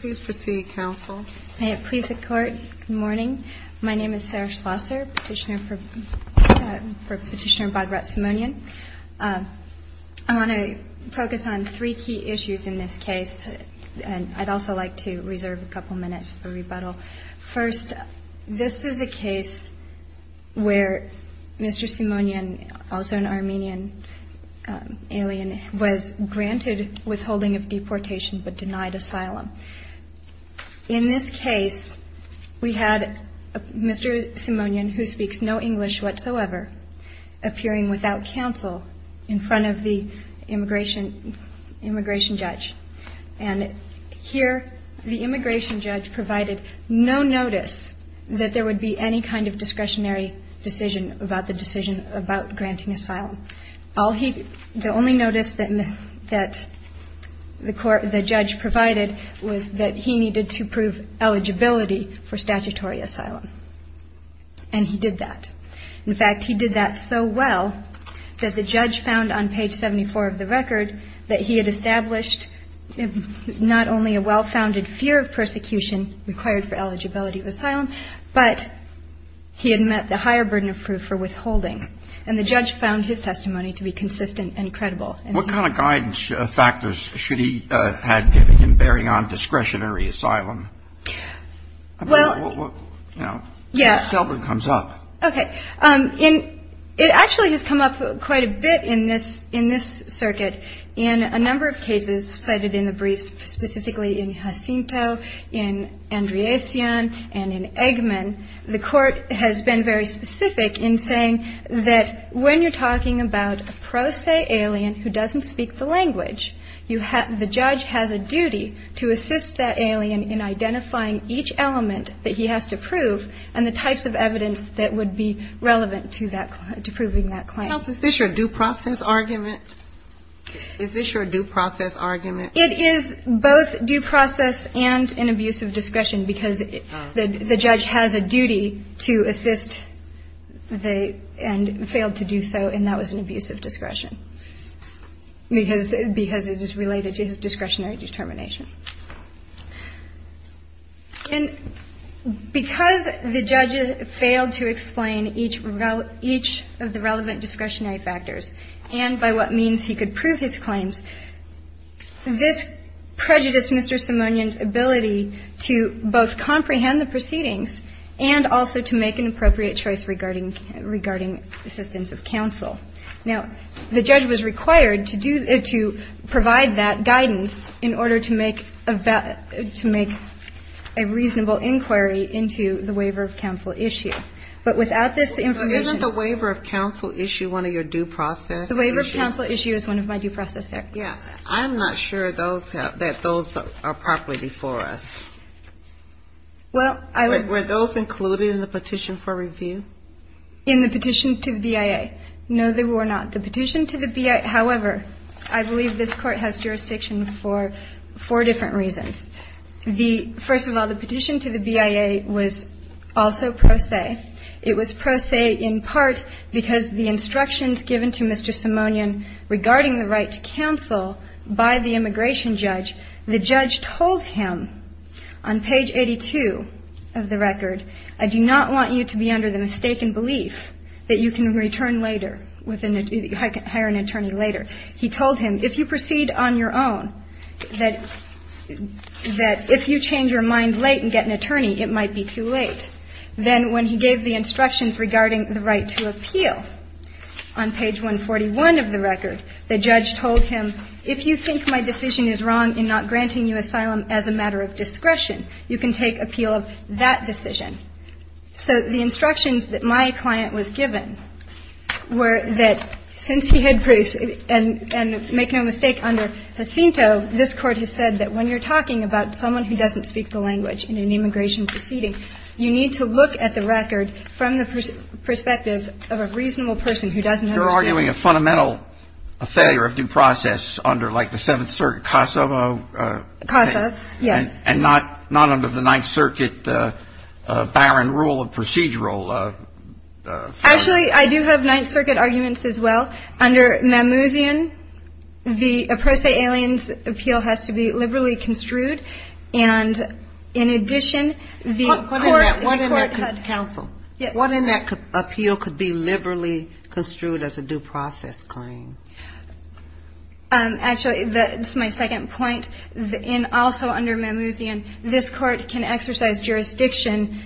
Please proceed, Counsel. May it please the Court, good morning. My name is Sarah Schlosser, Petitioner for Petitioner Badrat Simonyan. I want to focus on three key issues in this case. I'd also like to reserve a couple minutes for rebuttal. First, this is a case where Mr. Simonyan, also an Armenian alien, was granted withholding of deportation but denied asylum. In this case, we had Mr. Simonyan, who speaks no English whatsoever, appearing without counsel in front of the immigration judge. And here, the immigration judge provided no notice that there would be any kind of discretionary decision about the decision about granting asylum. The only notice that the judge provided was that he needed to prove eligibility for statutory asylum, and he did that. In fact, he did that so well that the judge found on page 74 of the record that he had established that he was not eligible for statutory asylum. He had not only a well-founded fear of persecution required for eligibility of asylum, but he had met the higher burden of proof for withholding. And the judge found his testimony to be consistent and credible. What kind of guidance factors should he have given in bearing on discretionary asylum? Well, yes. Okay. It actually has come up quite a bit in this circuit. In a number of cases cited in the briefs, specifically in Jacinto, in Andriasian, and in Eggman, the Court has been very specific in saying that when you're talking about a pro se alien who doesn't speak the language, the judge has a duty to assist that alien in identifying each element that he has to prove and the types of evidence that would be relevant to that claim, to proving that claim. Now, is this your due process argument? Is this your due process argument? It is both due process and an abuse of discretion, because the judge has a duty to assist the and failed to do so, and that was an abuse of discretion, because it is related to his discretionary determination. And because the judge failed to explain each of the relevant discretionary factors and by what means he could prove his claims, this prejudiced Mr. Simonian's ability to both comprehend the proceedings and also to make an appropriate choice regarding assistance of counsel. Now, the judge was required to provide that guidance in order to make a reasonable inquiry into the waiver of counsel issue. But without this information ---- So isn't the waiver of counsel issue one of your due process issues? The waiver of counsel issue is one of my due process arguments. Yes. I'm not sure those have ---- that those are properly before us. Well, I would ---- Were those included in the petition for review? In the petition to the BIA? No, they were not. The petition to the BIA, however, I believe this Court has jurisdiction for four different reasons. The ---- first of all, the petition to the BIA was also pro se. It was pro se in part because the instructions given to Mr. Simonian regarding the right to counsel by the immigration judge, the judge told him on page 82 of the record, I do not want you to be under the mistaken belief that you can return later with an ---- hire an attorney later. He told him, if you proceed on your own, that if you change your mind late and get an attorney, it might be too late. Then when he gave the instructions regarding the right to appeal on page 141 of the record, the judge told him, if you think my decision is wrong in not granting you asylum as a matter of discretion, you can take appeal of that decision. So the instructions that my client was given were that since he had ---- and make no mistake, under Jacinto, this Court has said that when you're talking about someone who doesn't speak the language in an immigration proceeding, you need to look at the record from the perspective of a reasonable person who doesn't understand. You're arguing a fundamental failure of due process under, like, the Seventh Circuit, CASA. CASA, yes. And not under the Ninth Circuit barren rule of procedural. Actually, I do have Ninth Circuit arguments as well. Under Mammouzian, the pro se aliens appeal has to be liberally construed. And in addition, the Court ---- What in that, counsel? Yes. What in that appeal could be liberally construed as a due process claim? Actually, that's my second point. And also under Mammouzian, this Court can exercise jurisdiction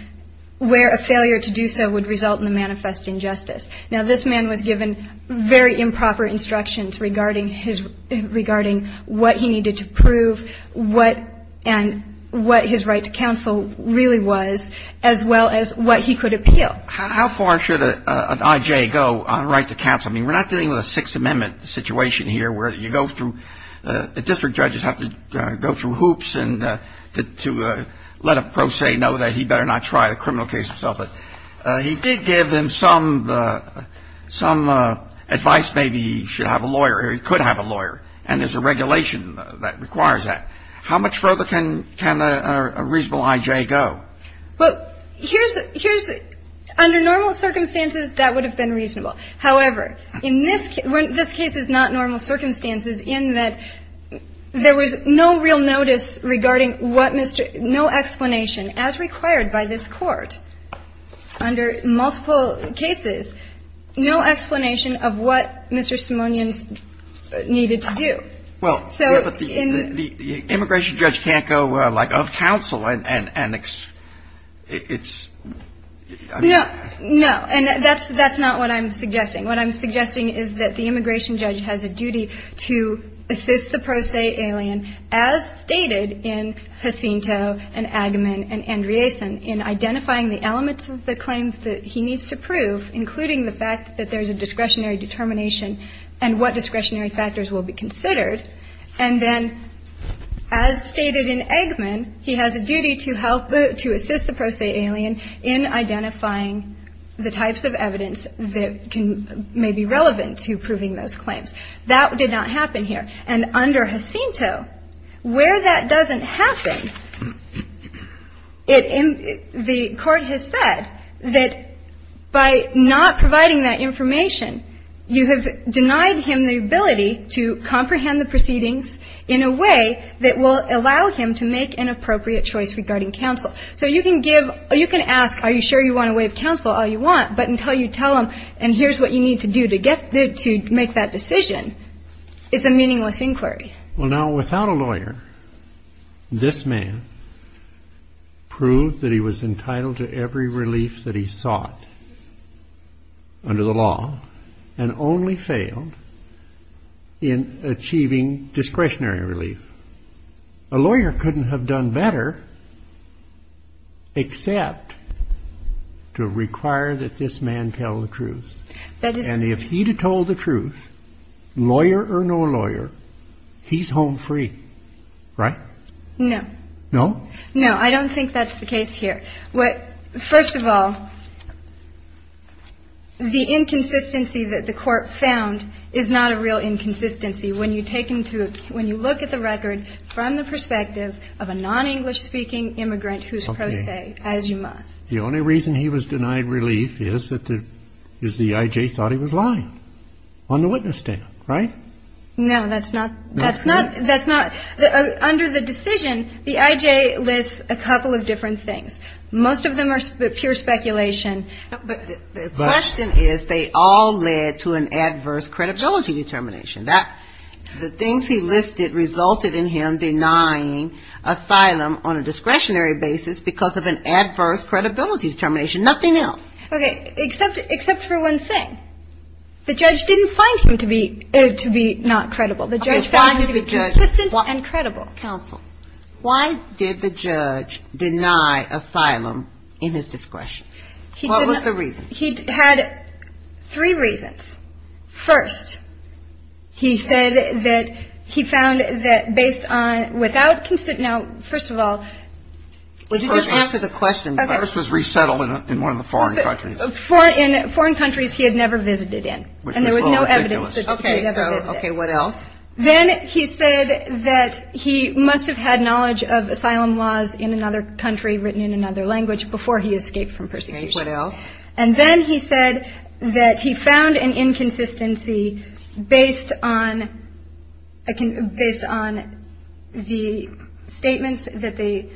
where a failure to do so would result in a manifest injustice. Now, this man was given very improper instructions regarding his ---- regarding what he needed to prove, what ---- and what his right to counsel really was, as well as what he could appeal. How far should an I.J. go on right to counsel? I mean, we're not dealing with a Sixth Amendment situation here where you go through ---- the district judges have to go through hoops to let a pro se know that he better not try the criminal case himself. But he did give them some advice. Maybe he should have a lawyer or he could have a lawyer. And there's a regulation that requires that. How much further can a reasonable I.J. go? Well, here's ---- under normal circumstances, that would have been reasonable. However, in this case ---- this case is not normal circumstances in that there was no real notice regarding what Mr. ---- under multiple cases, no explanation of what Mr. Simonian needed to do. Well, but the immigration judge can't go, like, of counsel and it's ---- No. No. And that's not what I'm suggesting. What I'm suggesting is that the immigration judge has a duty to assist the pro se alien, as stated in Jacinto and Eggman and Andreessen, in identifying the elements of the claims that he needs to prove, including the fact that there's a discretionary determination and what discretionary factors will be considered. And then, as stated in Eggman, he has a duty to help the ---- to assist the pro se alien in identifying the types of evidence that can ---- may be relevant to proving those claims. That did not happen here. And under Jacinto, where that doesn't happen, it ---- the Court has said that by not providing that information, you have denied him the ability to comprehend the proceedings in a way that will allow him to make an appropriate choice regarding counsel. So you can give ---- you can ask, are you sure you want to waive counsel all you want, but until you tell him, and here's what you need to do to get the ---- to make that decision, it's a meaningless inquiry. Well, now, without a lawyer, this man proved that he was entitled to every relief that he sought under the law and only failed in achieving discretionary relief. A lawyer couldn't have done better except to require that this man tell the truth. That is ---- And if he had told the truth, lawyer or no lawyer, he's home free, right? No. No? No. I don't think that's the case here. First of all, the inconsistency that the Court found is not a real inconsistency. When you take into ---- when you look at the record from the perspective of a non-English-speaking immigrant who's pro se, as you must. The only reason he was denied relief is that the ---- is the I.J. thought he was lying on the witness stand, right? No, that's not ---- that's not ---- that's not ---- under the decision, the I.J. lists a couple of different things. Most of them are pure speculation. But the question is they all led to an adverse credibility determination. The things he listed resulted in him denying asylum on a discretionary basis because of an adverse credibility determination. Nothing else. Okay. Except for one thing. The judge didn't find him to be not credible. The judge found him to be consistent and credible. Counsel. Why did the judge deny asylum in his discretion? He did not. What was the reason? He had three reasons. First, he said that he found that based on ---- without ---- now, first of all. Would you just answer the question? Okay. The virus was resettled in one of the foreign countries. In foreign countries he had never visited in. Which is a little ridiculous. And there was no evidence that he had ever visited. Okay. So, okay. What else? Then he said that he must have had knowledge of asylum laws in another country, written in another language, before he escaped from persecution. Okay. What else? And then he said that he found an inconsistency based on the statements that they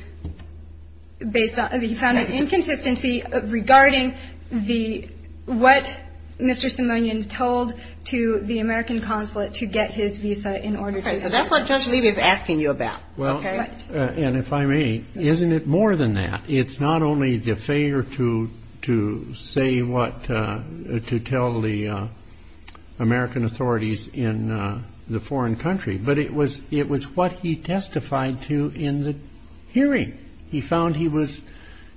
---- Okay. He found an inconsistency regarding the ---- what Mr. Simonian told to the American consulate to get his visa in order to ---- Okay. So that's what Judge Levy is asking you about. Okay. Well, and if I may, isn't it more than that? It's not only the failure to say what ---- to tell the American authorities in the foreign country, but it was what he testified to in the hearing. He found he was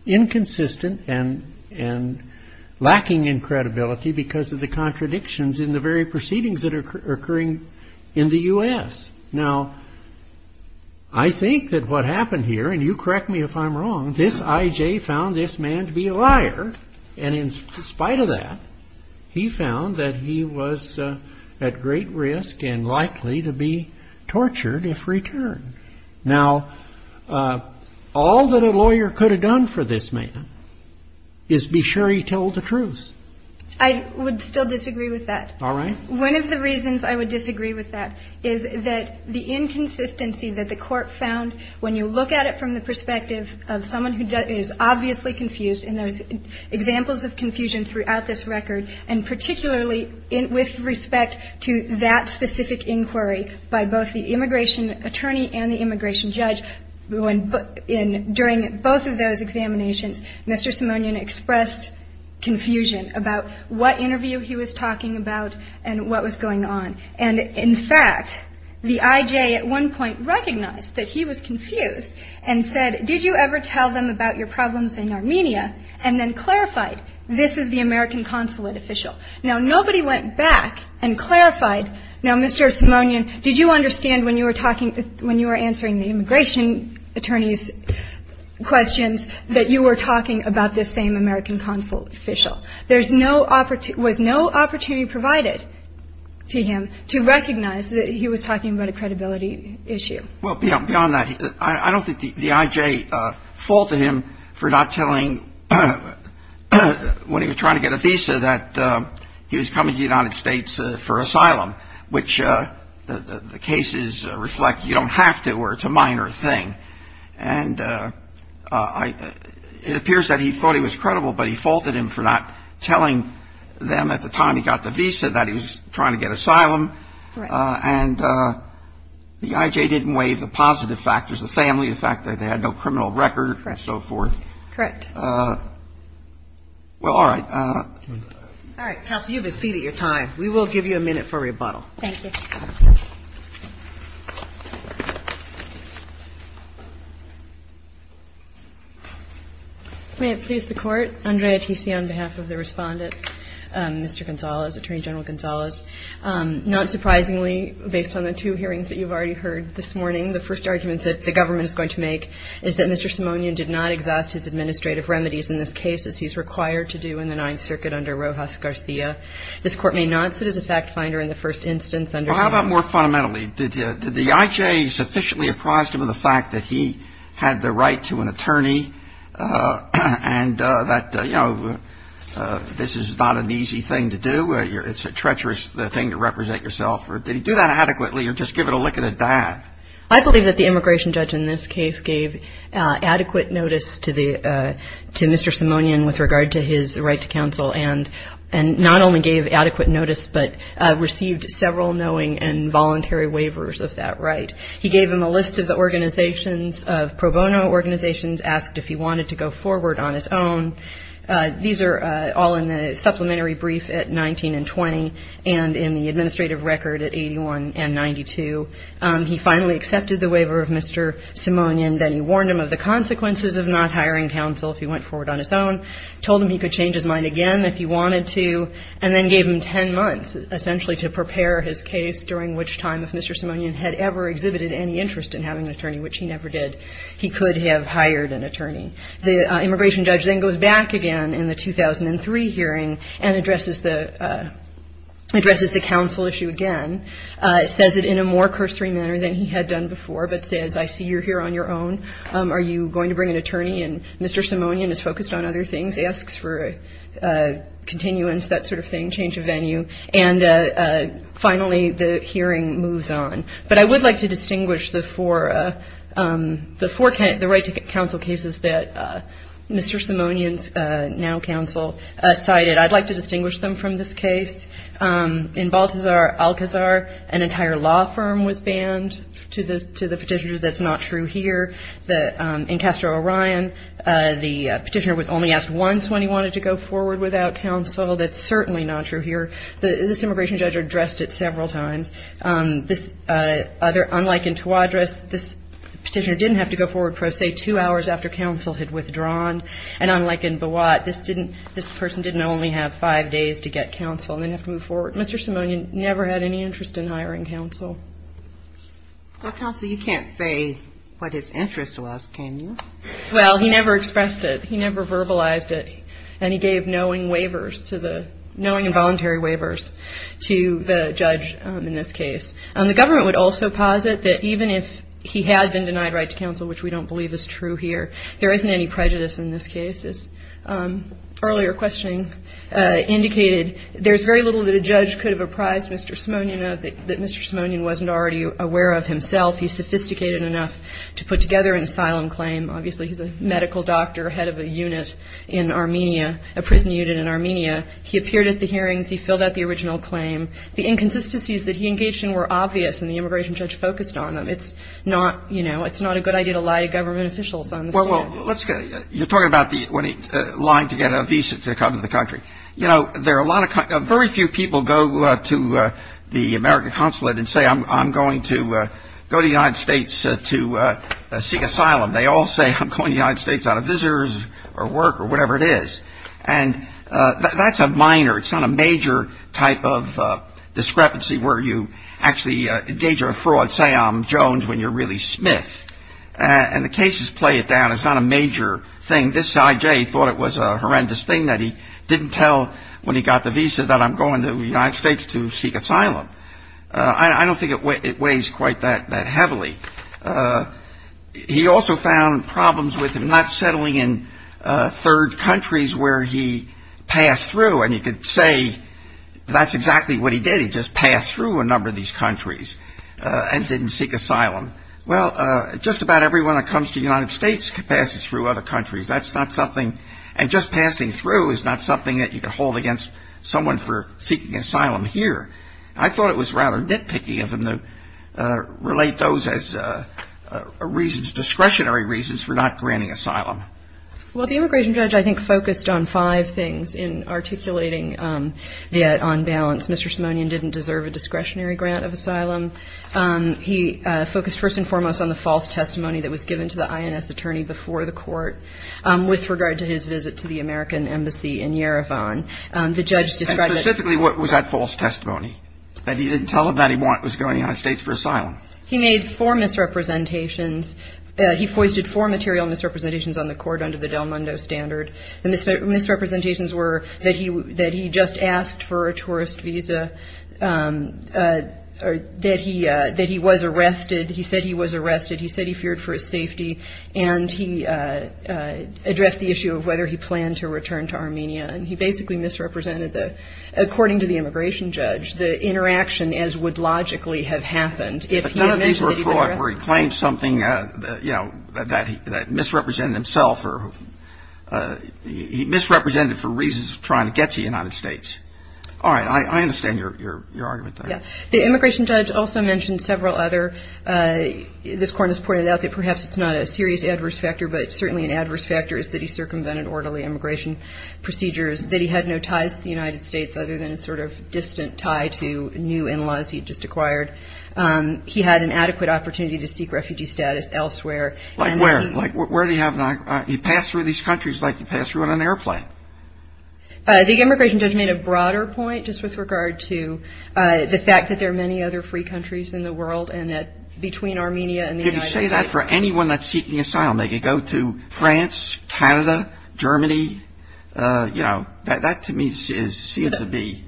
inconsistent and lacking in credibility because of the contradictions in the very proceedings that are occurring in the U.S. Now, I think that what happened here, and you correct me if I'm wrong, this I.J. found this man to be a liar. And in spite of that, he found that he was at great risk and likely to be tortured if returned. Now, all that a lawyer could have done for this man is be sure he told the truth. I would still disagree with that. All right. One of the reasons I would disagree with that is that the inconsistency that the court found when you look at it from the perspective of someone who is obviously confused and there's examples of confusion throughout this record and particularly with respect to that specific inquiry by both the immigration attorney and the immigration judge. During both of those examinations, Mr. Simonian expressed confusion about what interview he was talking about and what was going on. And, in fact, the I.J. at one point recognized that he was confused and said, did you ever tell them about your problems in Armenia? And then clarified, this is the American consulate official. Now, nobody went back and clarified. Now, Mr. Simonian, did you understand when you were talking, when you were answering the immigration attorney's questions that you were talking about this same American consulate official? There's no opportunity, was no opportunity provided to him to recognize that he was talking about a credibility issue. Well, beyond that, I don't think the I.J. faulted him for not telling when he was trying to get a visa that he was coming to the United States for asylum, which the cases reflect you don't have to or it's a minor thing. And it appears that he thought he was credible, but he faulted him for not telling them at the time he got the visa that he was trying to get asylum. And the I.J. didn't waive the positive factors, the family, the fact that they had no criminal record and so forth. Correct. Well, all right. All right. Counsel, you have a seat at your time. We will give you a minute for rebuttal. Thank you. May it please the Court. Andrea Tisi on behalf of the Respondent, Mr. Gonzales, Attorney General Gonzales. Not surprisingly, based on the two hearings that you've already heard this morning, the first argument that the government is going to make is that Mr. Gonzales has not been able to do the administrative remedies in this case as he's required to do in the Ninth Circuit under Rojas Garcia. This Court may not see it as a fact finder in the first instance under the new law. Well, how about more fundamentally? Did the I.J. sufficiently apprise him of the fact that he had the right to an attorney and that, you know, this is not an easy thing to do, it's a treacherous thing to represent yourself? Did he do that adequately or just give it a lick of the dab? I believe that the immigration judge in this case gave adequate notice to Mr. Simonian with regard to his right to counsel and not only gave adequate notice but received several knowing and voluntary waivers of that right. He gave him a list of organizations, of pro bono organizations, asked if he wanted to go forward on his own. These are all in the supplementary brief at 19 and 20 and in the administrative record at 81 and 92. He finally accepted the waiver of Mr. Simonian. Then he warned him of the consequences of not hiring counsel if he went forward on his own, told him he could change his mind again if he wanted to, and then gave him 10 months essentially to prepare his case during which time if Mr. Simonian had ever exhibited any interest in having an attorney, which he never did, he could have hired an attorney. The immigration judge then goes back again in the 2003 hearing and addresses the counsel issue again, says it in a more cursory manner than he had done before but says, I see you're here on your own. Are you going to bring an attorney? And Mr. Simonian is focused on other things, asks for continuance, that sort of thing, change of venue. And finally the hearing moves on. But I would like to distinguish the four right to counsel cases that Mr. Simonian's now counsel cited. I'd like to distinguish them from this case. In Baltazar-Alcazar, an entire law firm was banned to the petitioner. That's not true here. In Castro-Orion, the petitioner was only asked once when he wanted to go forward without counsel. That's certainly not true here. This immigration judge addressed it several times. Unlike in Tawadris, this petitioner didn't have to go forward, say, two hours after counsel had withdrawn. And unlike in Bawat, this person didn't only have five days to get counsel. They didn't have to move forward. Mr. Simonian never had any interest in hiring counsel. Well, counsel, you can't say what his interest was, can you? Well, he never expressed it. He never verbalized it. And he gave knowing waivers to the ‑‑ knowing and voluntary waivers to the judge in this case. The government would also posit that even if he had been denied right to counsel, which we don't believe is true here, there isn't any prejudice in this case. As earlier questioning indicated, there's very little that a judge could have apprised Mr. Simonian of that Mr. Simonian wasn't already aware of himself. He's sophisticated enough to put together an asylum claim. Obviously, he's a medical doctor, head of a unit in Armenia, a prison unit in Armenia. He appeared at the hearings. He filled out the original claim. The inconsistencies that he engaged in were obvious, and the immigration judge focused on them. It's not, you know, it's not a good idea to lie to government officials on this. Well, you're talking about when he lied to get a visa to come to the country. You know, there are a lot of ‑‑ very few people go to the American consulate and say, I'm going to go to the United States to seek asylum. They all say, I'm going to the United States out of business or work or whatever it is. And that's a minor, it's not a major type of discrepancy where you actually engage in a fraud, say I'm Jones, when you're really Smith. And the cases play it down. It's not a major thing. This guy, Jay, thought it was a horrendous thing that he didn't tell when he got the visa that I'm going to the United States to seek asylum. I don't think it weighs quite that heavily. He also found problems with him not settling in third countries where he passed through, and you could say that's exactly what he did. He just passed through a number of these countries and didn't seek asylum. Well, just about everyone that comes to the United States passes through other countries. That's not something ‑‑ and just passing through is not something that you could hold against someone for seeking asylum here. I thought it was rather nitpicky of him to relate those as reasons, discretionary reasons for not granting asylum. Well, the immigration judge, I think, focused on five things in articulating the on balance. Mr. Simonian didn't deserve a discretionary grant of asylum. He focused first and foremost on the false testimony that was given to the INS attorney before the court with regard to his visit to the American Embassy in Yerevan. And specifically, what was that false testimony? That he didn't tell him that he was going to the United States for asylum. He made four misrepresentations. He foisted four material misrepresentations on the court under the Del Mundo standard. The misrepresentations were that he just asked for a tourist visa, that he was arrested. He said he was arrested. He said he feared for his safety, and he addressed the issue of whether he planned to return to Armenia. And he basically misrepresented, according to the immigration judge, the interaction as would logically have happened if he had mentioned that he was arrested. None of these were fraud where he claimed something that misrepresented himself or he misrepresented it for reasons of trying to get to the United States. All right. I understand your argument there. Yeah. The immigration judge also mentioned several other. This court has pointed out that perhaps it's not a serious adverse factor, but certainly an adverse factor is that he circumvented orderly immigration procedures, that he had no ties to the United States other than a sort of distant tie to new in-laws he had just acquired. He had an adequate opportunity to seek refugee status elsewhere. Like where? Like where did he have not? He passed through these countries like he passed through on an airplane. The immigration judge made a broader point just with regard to the fact that there are many other free countries in the world and that between Armenia and the United States. They say that for anyone that's seeking asylum. They could go to France, Canada, Germany. You know, that to me seems to be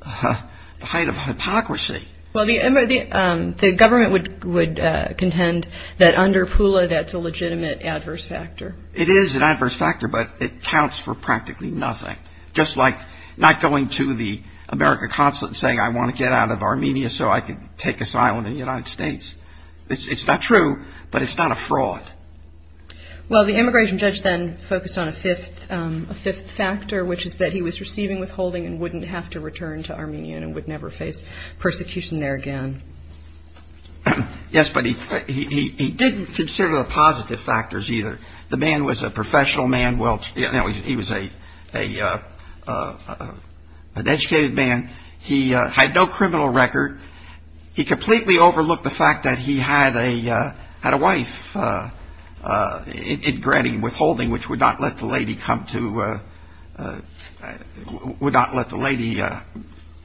the height of hypocrisy. Well, the government would contend that under Pula that's a legitimate adverse factor. It is an adverse factor, but it counts for practically nothing. Just like not going to the American consulate and saying, I want to get out of Armenia so I can take asylum in the United States. It's not true, but it's not a fraud. Well, the immigration judge then focused on a fifth factor, which is that he was receiving withholding and wouldn't have to return to Armenia and would never face persecution there again. Yes, but he didn't consider the positive factors either. The man was a professional man. He was an educated man. He had no criminal record. He completely overlooked the fact that he had a wife in Greddy withholding, which would not let the lady come to – would not let the lady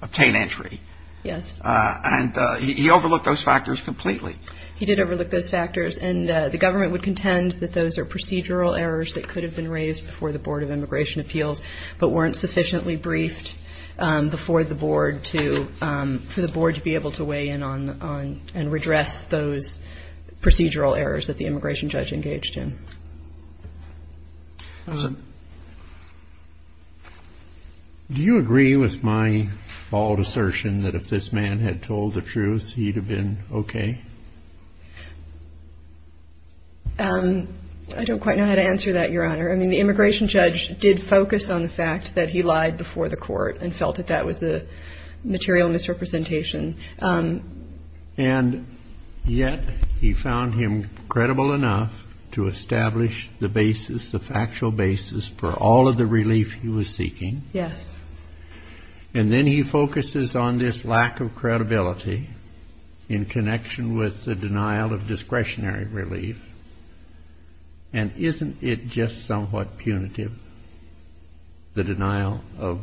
obtain entry. Yes. And he overlooked those factors completely. He did overlook those factors, and the government would contend that those are procedural errors that could have been raised before the Board of Immigration Appeals but weren't sufficiently briefed before the board to – for the board to be able to weigh in on and redress those procedural errors that the immigration judge engaged in. Do you agree with my bald assertion that if this man had told the truth, he'd have been okay? I don't quite know how to answer that, Your Honor. I mean, the immigration judge did focus on the fact that he lied before the court and felt that that was a material misrepresentation. And yet he found him credible enough to establish the basis, the factual basis for all of the relief he was seeking. Yes. And then he focuses on this lack of credibility in connection with the denial of discretionary relief. And isn't it just somewhat punitive, the denial of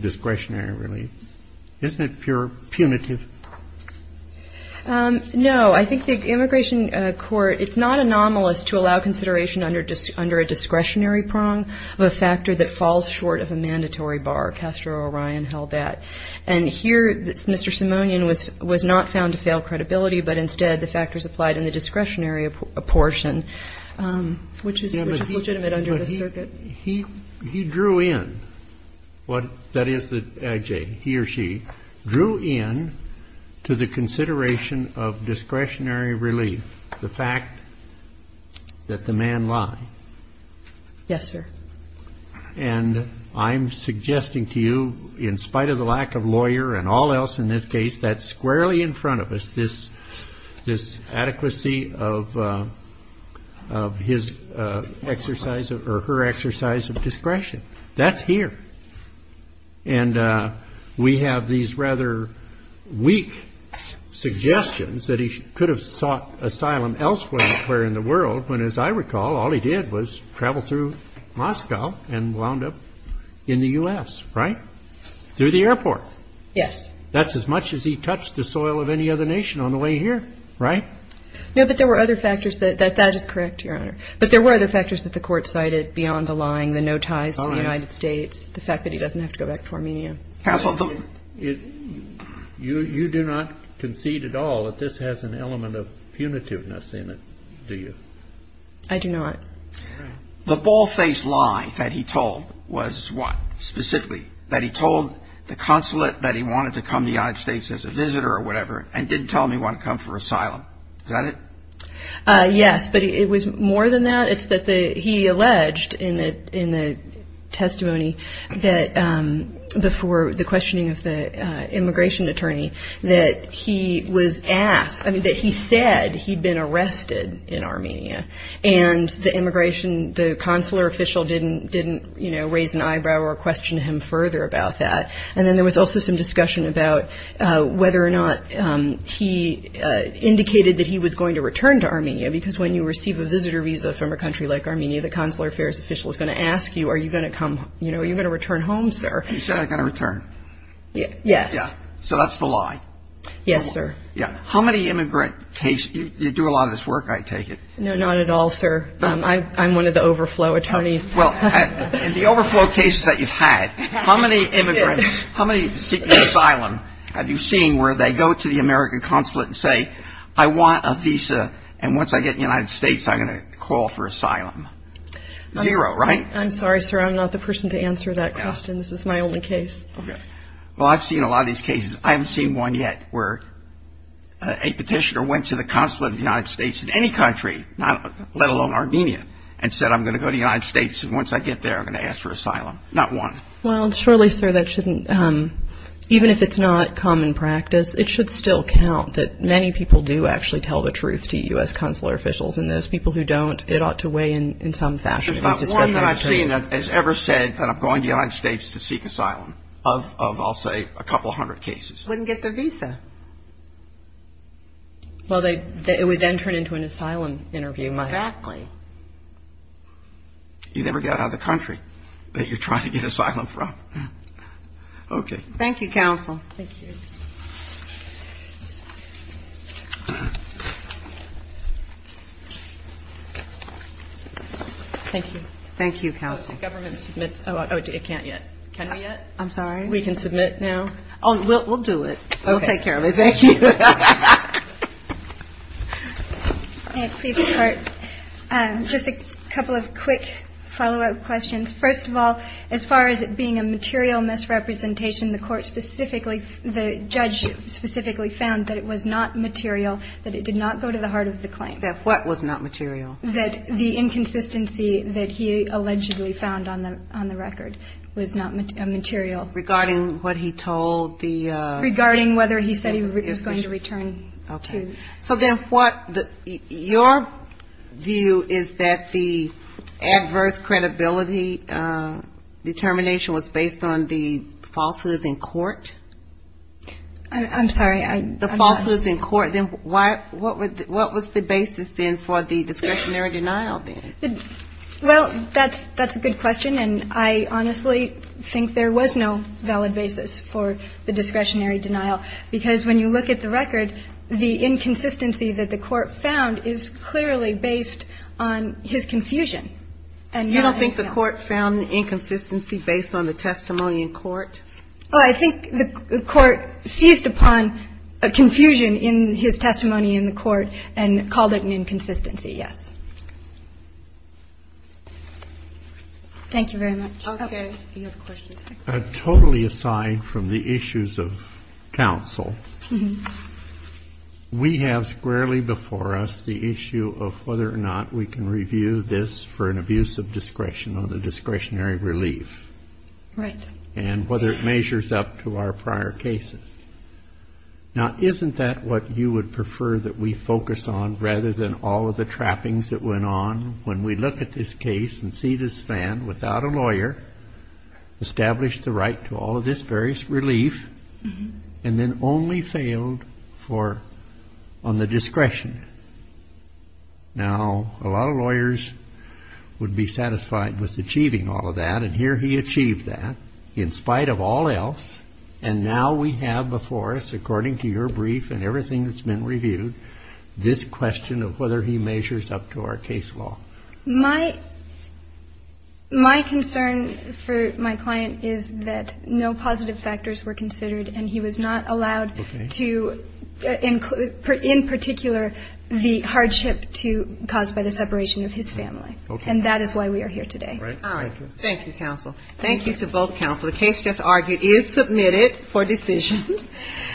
discretionary relief? Isn't it pure punitive? No. I think the immigration court, it's not anomalous to allow consideration under a discretionary prong of a factor that falls short of a mandatory bar. Castro or Ryan held that. And here, Mr. Simonian was not found to fail credibility, but instead the factors applied in the discretionary portion, which is legitimate under the circuit. He drew in what that is that he or she drew in to the consideration of discretionary relief, the fact that the man lied. Yes, sir. And I'm suggesting to you, in spite of the lack of lawyer and all else in this case, that squarely in front of us this adequacy of his exercise or her exercise of discretion. That's here. And we have these rather weak suggestions that he could have sought asylum elsewhere in the world, when, as I recall, all he did was travel through Moscow and wound up in the U.S., right? Through the airport. Yes. That's as much as he touched the soil of any other nation on the way here, right? No, but there were other factors that that is correct, Your Honor. But there were other factors that the Court cited beyond the lying, the no ties to the United States, the fact that he doesn't have to go back to Armenia. Counsel, you do not concede at all that this has an element of punitiveness in it, do you? I do not. The ball-faced lie that he told was what, specifically? That he told the consulate that he wanted to come to the United States as a visitor or whatever and didn't tell them he wanted to come for asylum. Is that it? Yes, but it was more than that. It's that he alleged in the testimony for the questioning of the immigration attorney that he was asked, I mean that he said he'd been arrested in Armenia, and the consular official didn't raise an eyebrow or question him further about that. And then there was also some discussion about whether or not he indicated that he was going to return to Armenia because when you receive a visitor visa from a country like Armenia, the consular affairs official is going to ask you, are you going to return home, sir? He said, I got to return. Yes. So that's the lie. Yes, sir. How many immigrant cases, you do a lot of this work, I take it. No, not at all, sir. I'm one of the overflow attorneys. Well, in the overflow cases that you've had, how many immigrants, how many asylum have you seen where they go to the American consulate and say, I want a visa, and once I get to the United States I'm going to call for asylum? Zero, right? I'm sorry, sir, I'm not the person to answer that question. This is my only case. Well, I've seen a lot of these cases. I haven't seen one yet where a petitioner went to the consulate of the United States in any country, let alone Armenia, and said, I'm going to go to the United States, and once I get there I'm going to ask for asylum. Not one. Well, surely, sir, that shouldn't, even if it's not common practice, it should still count that many people do actually tell the truth to U.S. consular officials, and those people who don't, it ought to weigh in some fashion. There's about one that I've seen that has ever said that I'm going to the United States to seek asylum of, I'll say, a couple hundred cases. Wouldn't get their visa. Well, it would then turn into an asylum interview. Exactly. You never get out of the country that you're trying to get asylum from. Okay. Thank you, counsel. Thank you. Thank you. Thank you, counsel. The government submits. Oh, it can't yet. Can we yet? I'm sorry? We can submit now? Oh, we'll do it. We'll take care of it. Thank you. May I please start? Just a couple of quick follow-up questions. First of all, as far as it being a material misrepresentation, the court specifically, the judge specifically found that it was not material, that it did not go to the heart of the claim. That what was not material? That the inconsistency that he allegedly found on the record was not material. Regarding what he told the? Regarding whether he said he was going to return to. Okay. So then what your view is that the adverse credibility determination was based on the falsehoods in court? I'm sorry. The falsehoods in court. Then what was the basis then for the discretionary denial then? Well, that's a good question. And I honestly think there was no valid basis for the discretionary denial. Because when you look at the record, the inconsistency that the court found is clearly based on his confusion. You don't think the court found inconsistency based on the testimony in court? Well, I think the court seized upon a confusion in his testimony in the court and called it an inconsistency, yes. Thank you very much. Okay. Do you have a question? Totally aside from the issues of counsel, we have squarely before us the issue of whether or not we can review this for an abuse of discretion or the discretionary relief. Right. And whether it measures up to our prior cases. Now, isn't that what you would prefer that we focus on rather than all of the trappings that went on when we look at this case and see this man without a lawyer established the right to all of this various relief and then only failed on the discretion? Now, a lot of lawyers would be satisfied with achieving all of that. And here he achieved that in spite of all else. And now we have before us, according to your brief and everything that's been reviewed, this question of whether he measures up to our case law. My concern for my client is that no positive factors were considered, and he was not allowed to, in particular, the hardship caused by the separation of his family. Okay. And that is why we are here today. All right. Thank you, counsel. Thank you to both counsel. The case just argued is submitted for decision.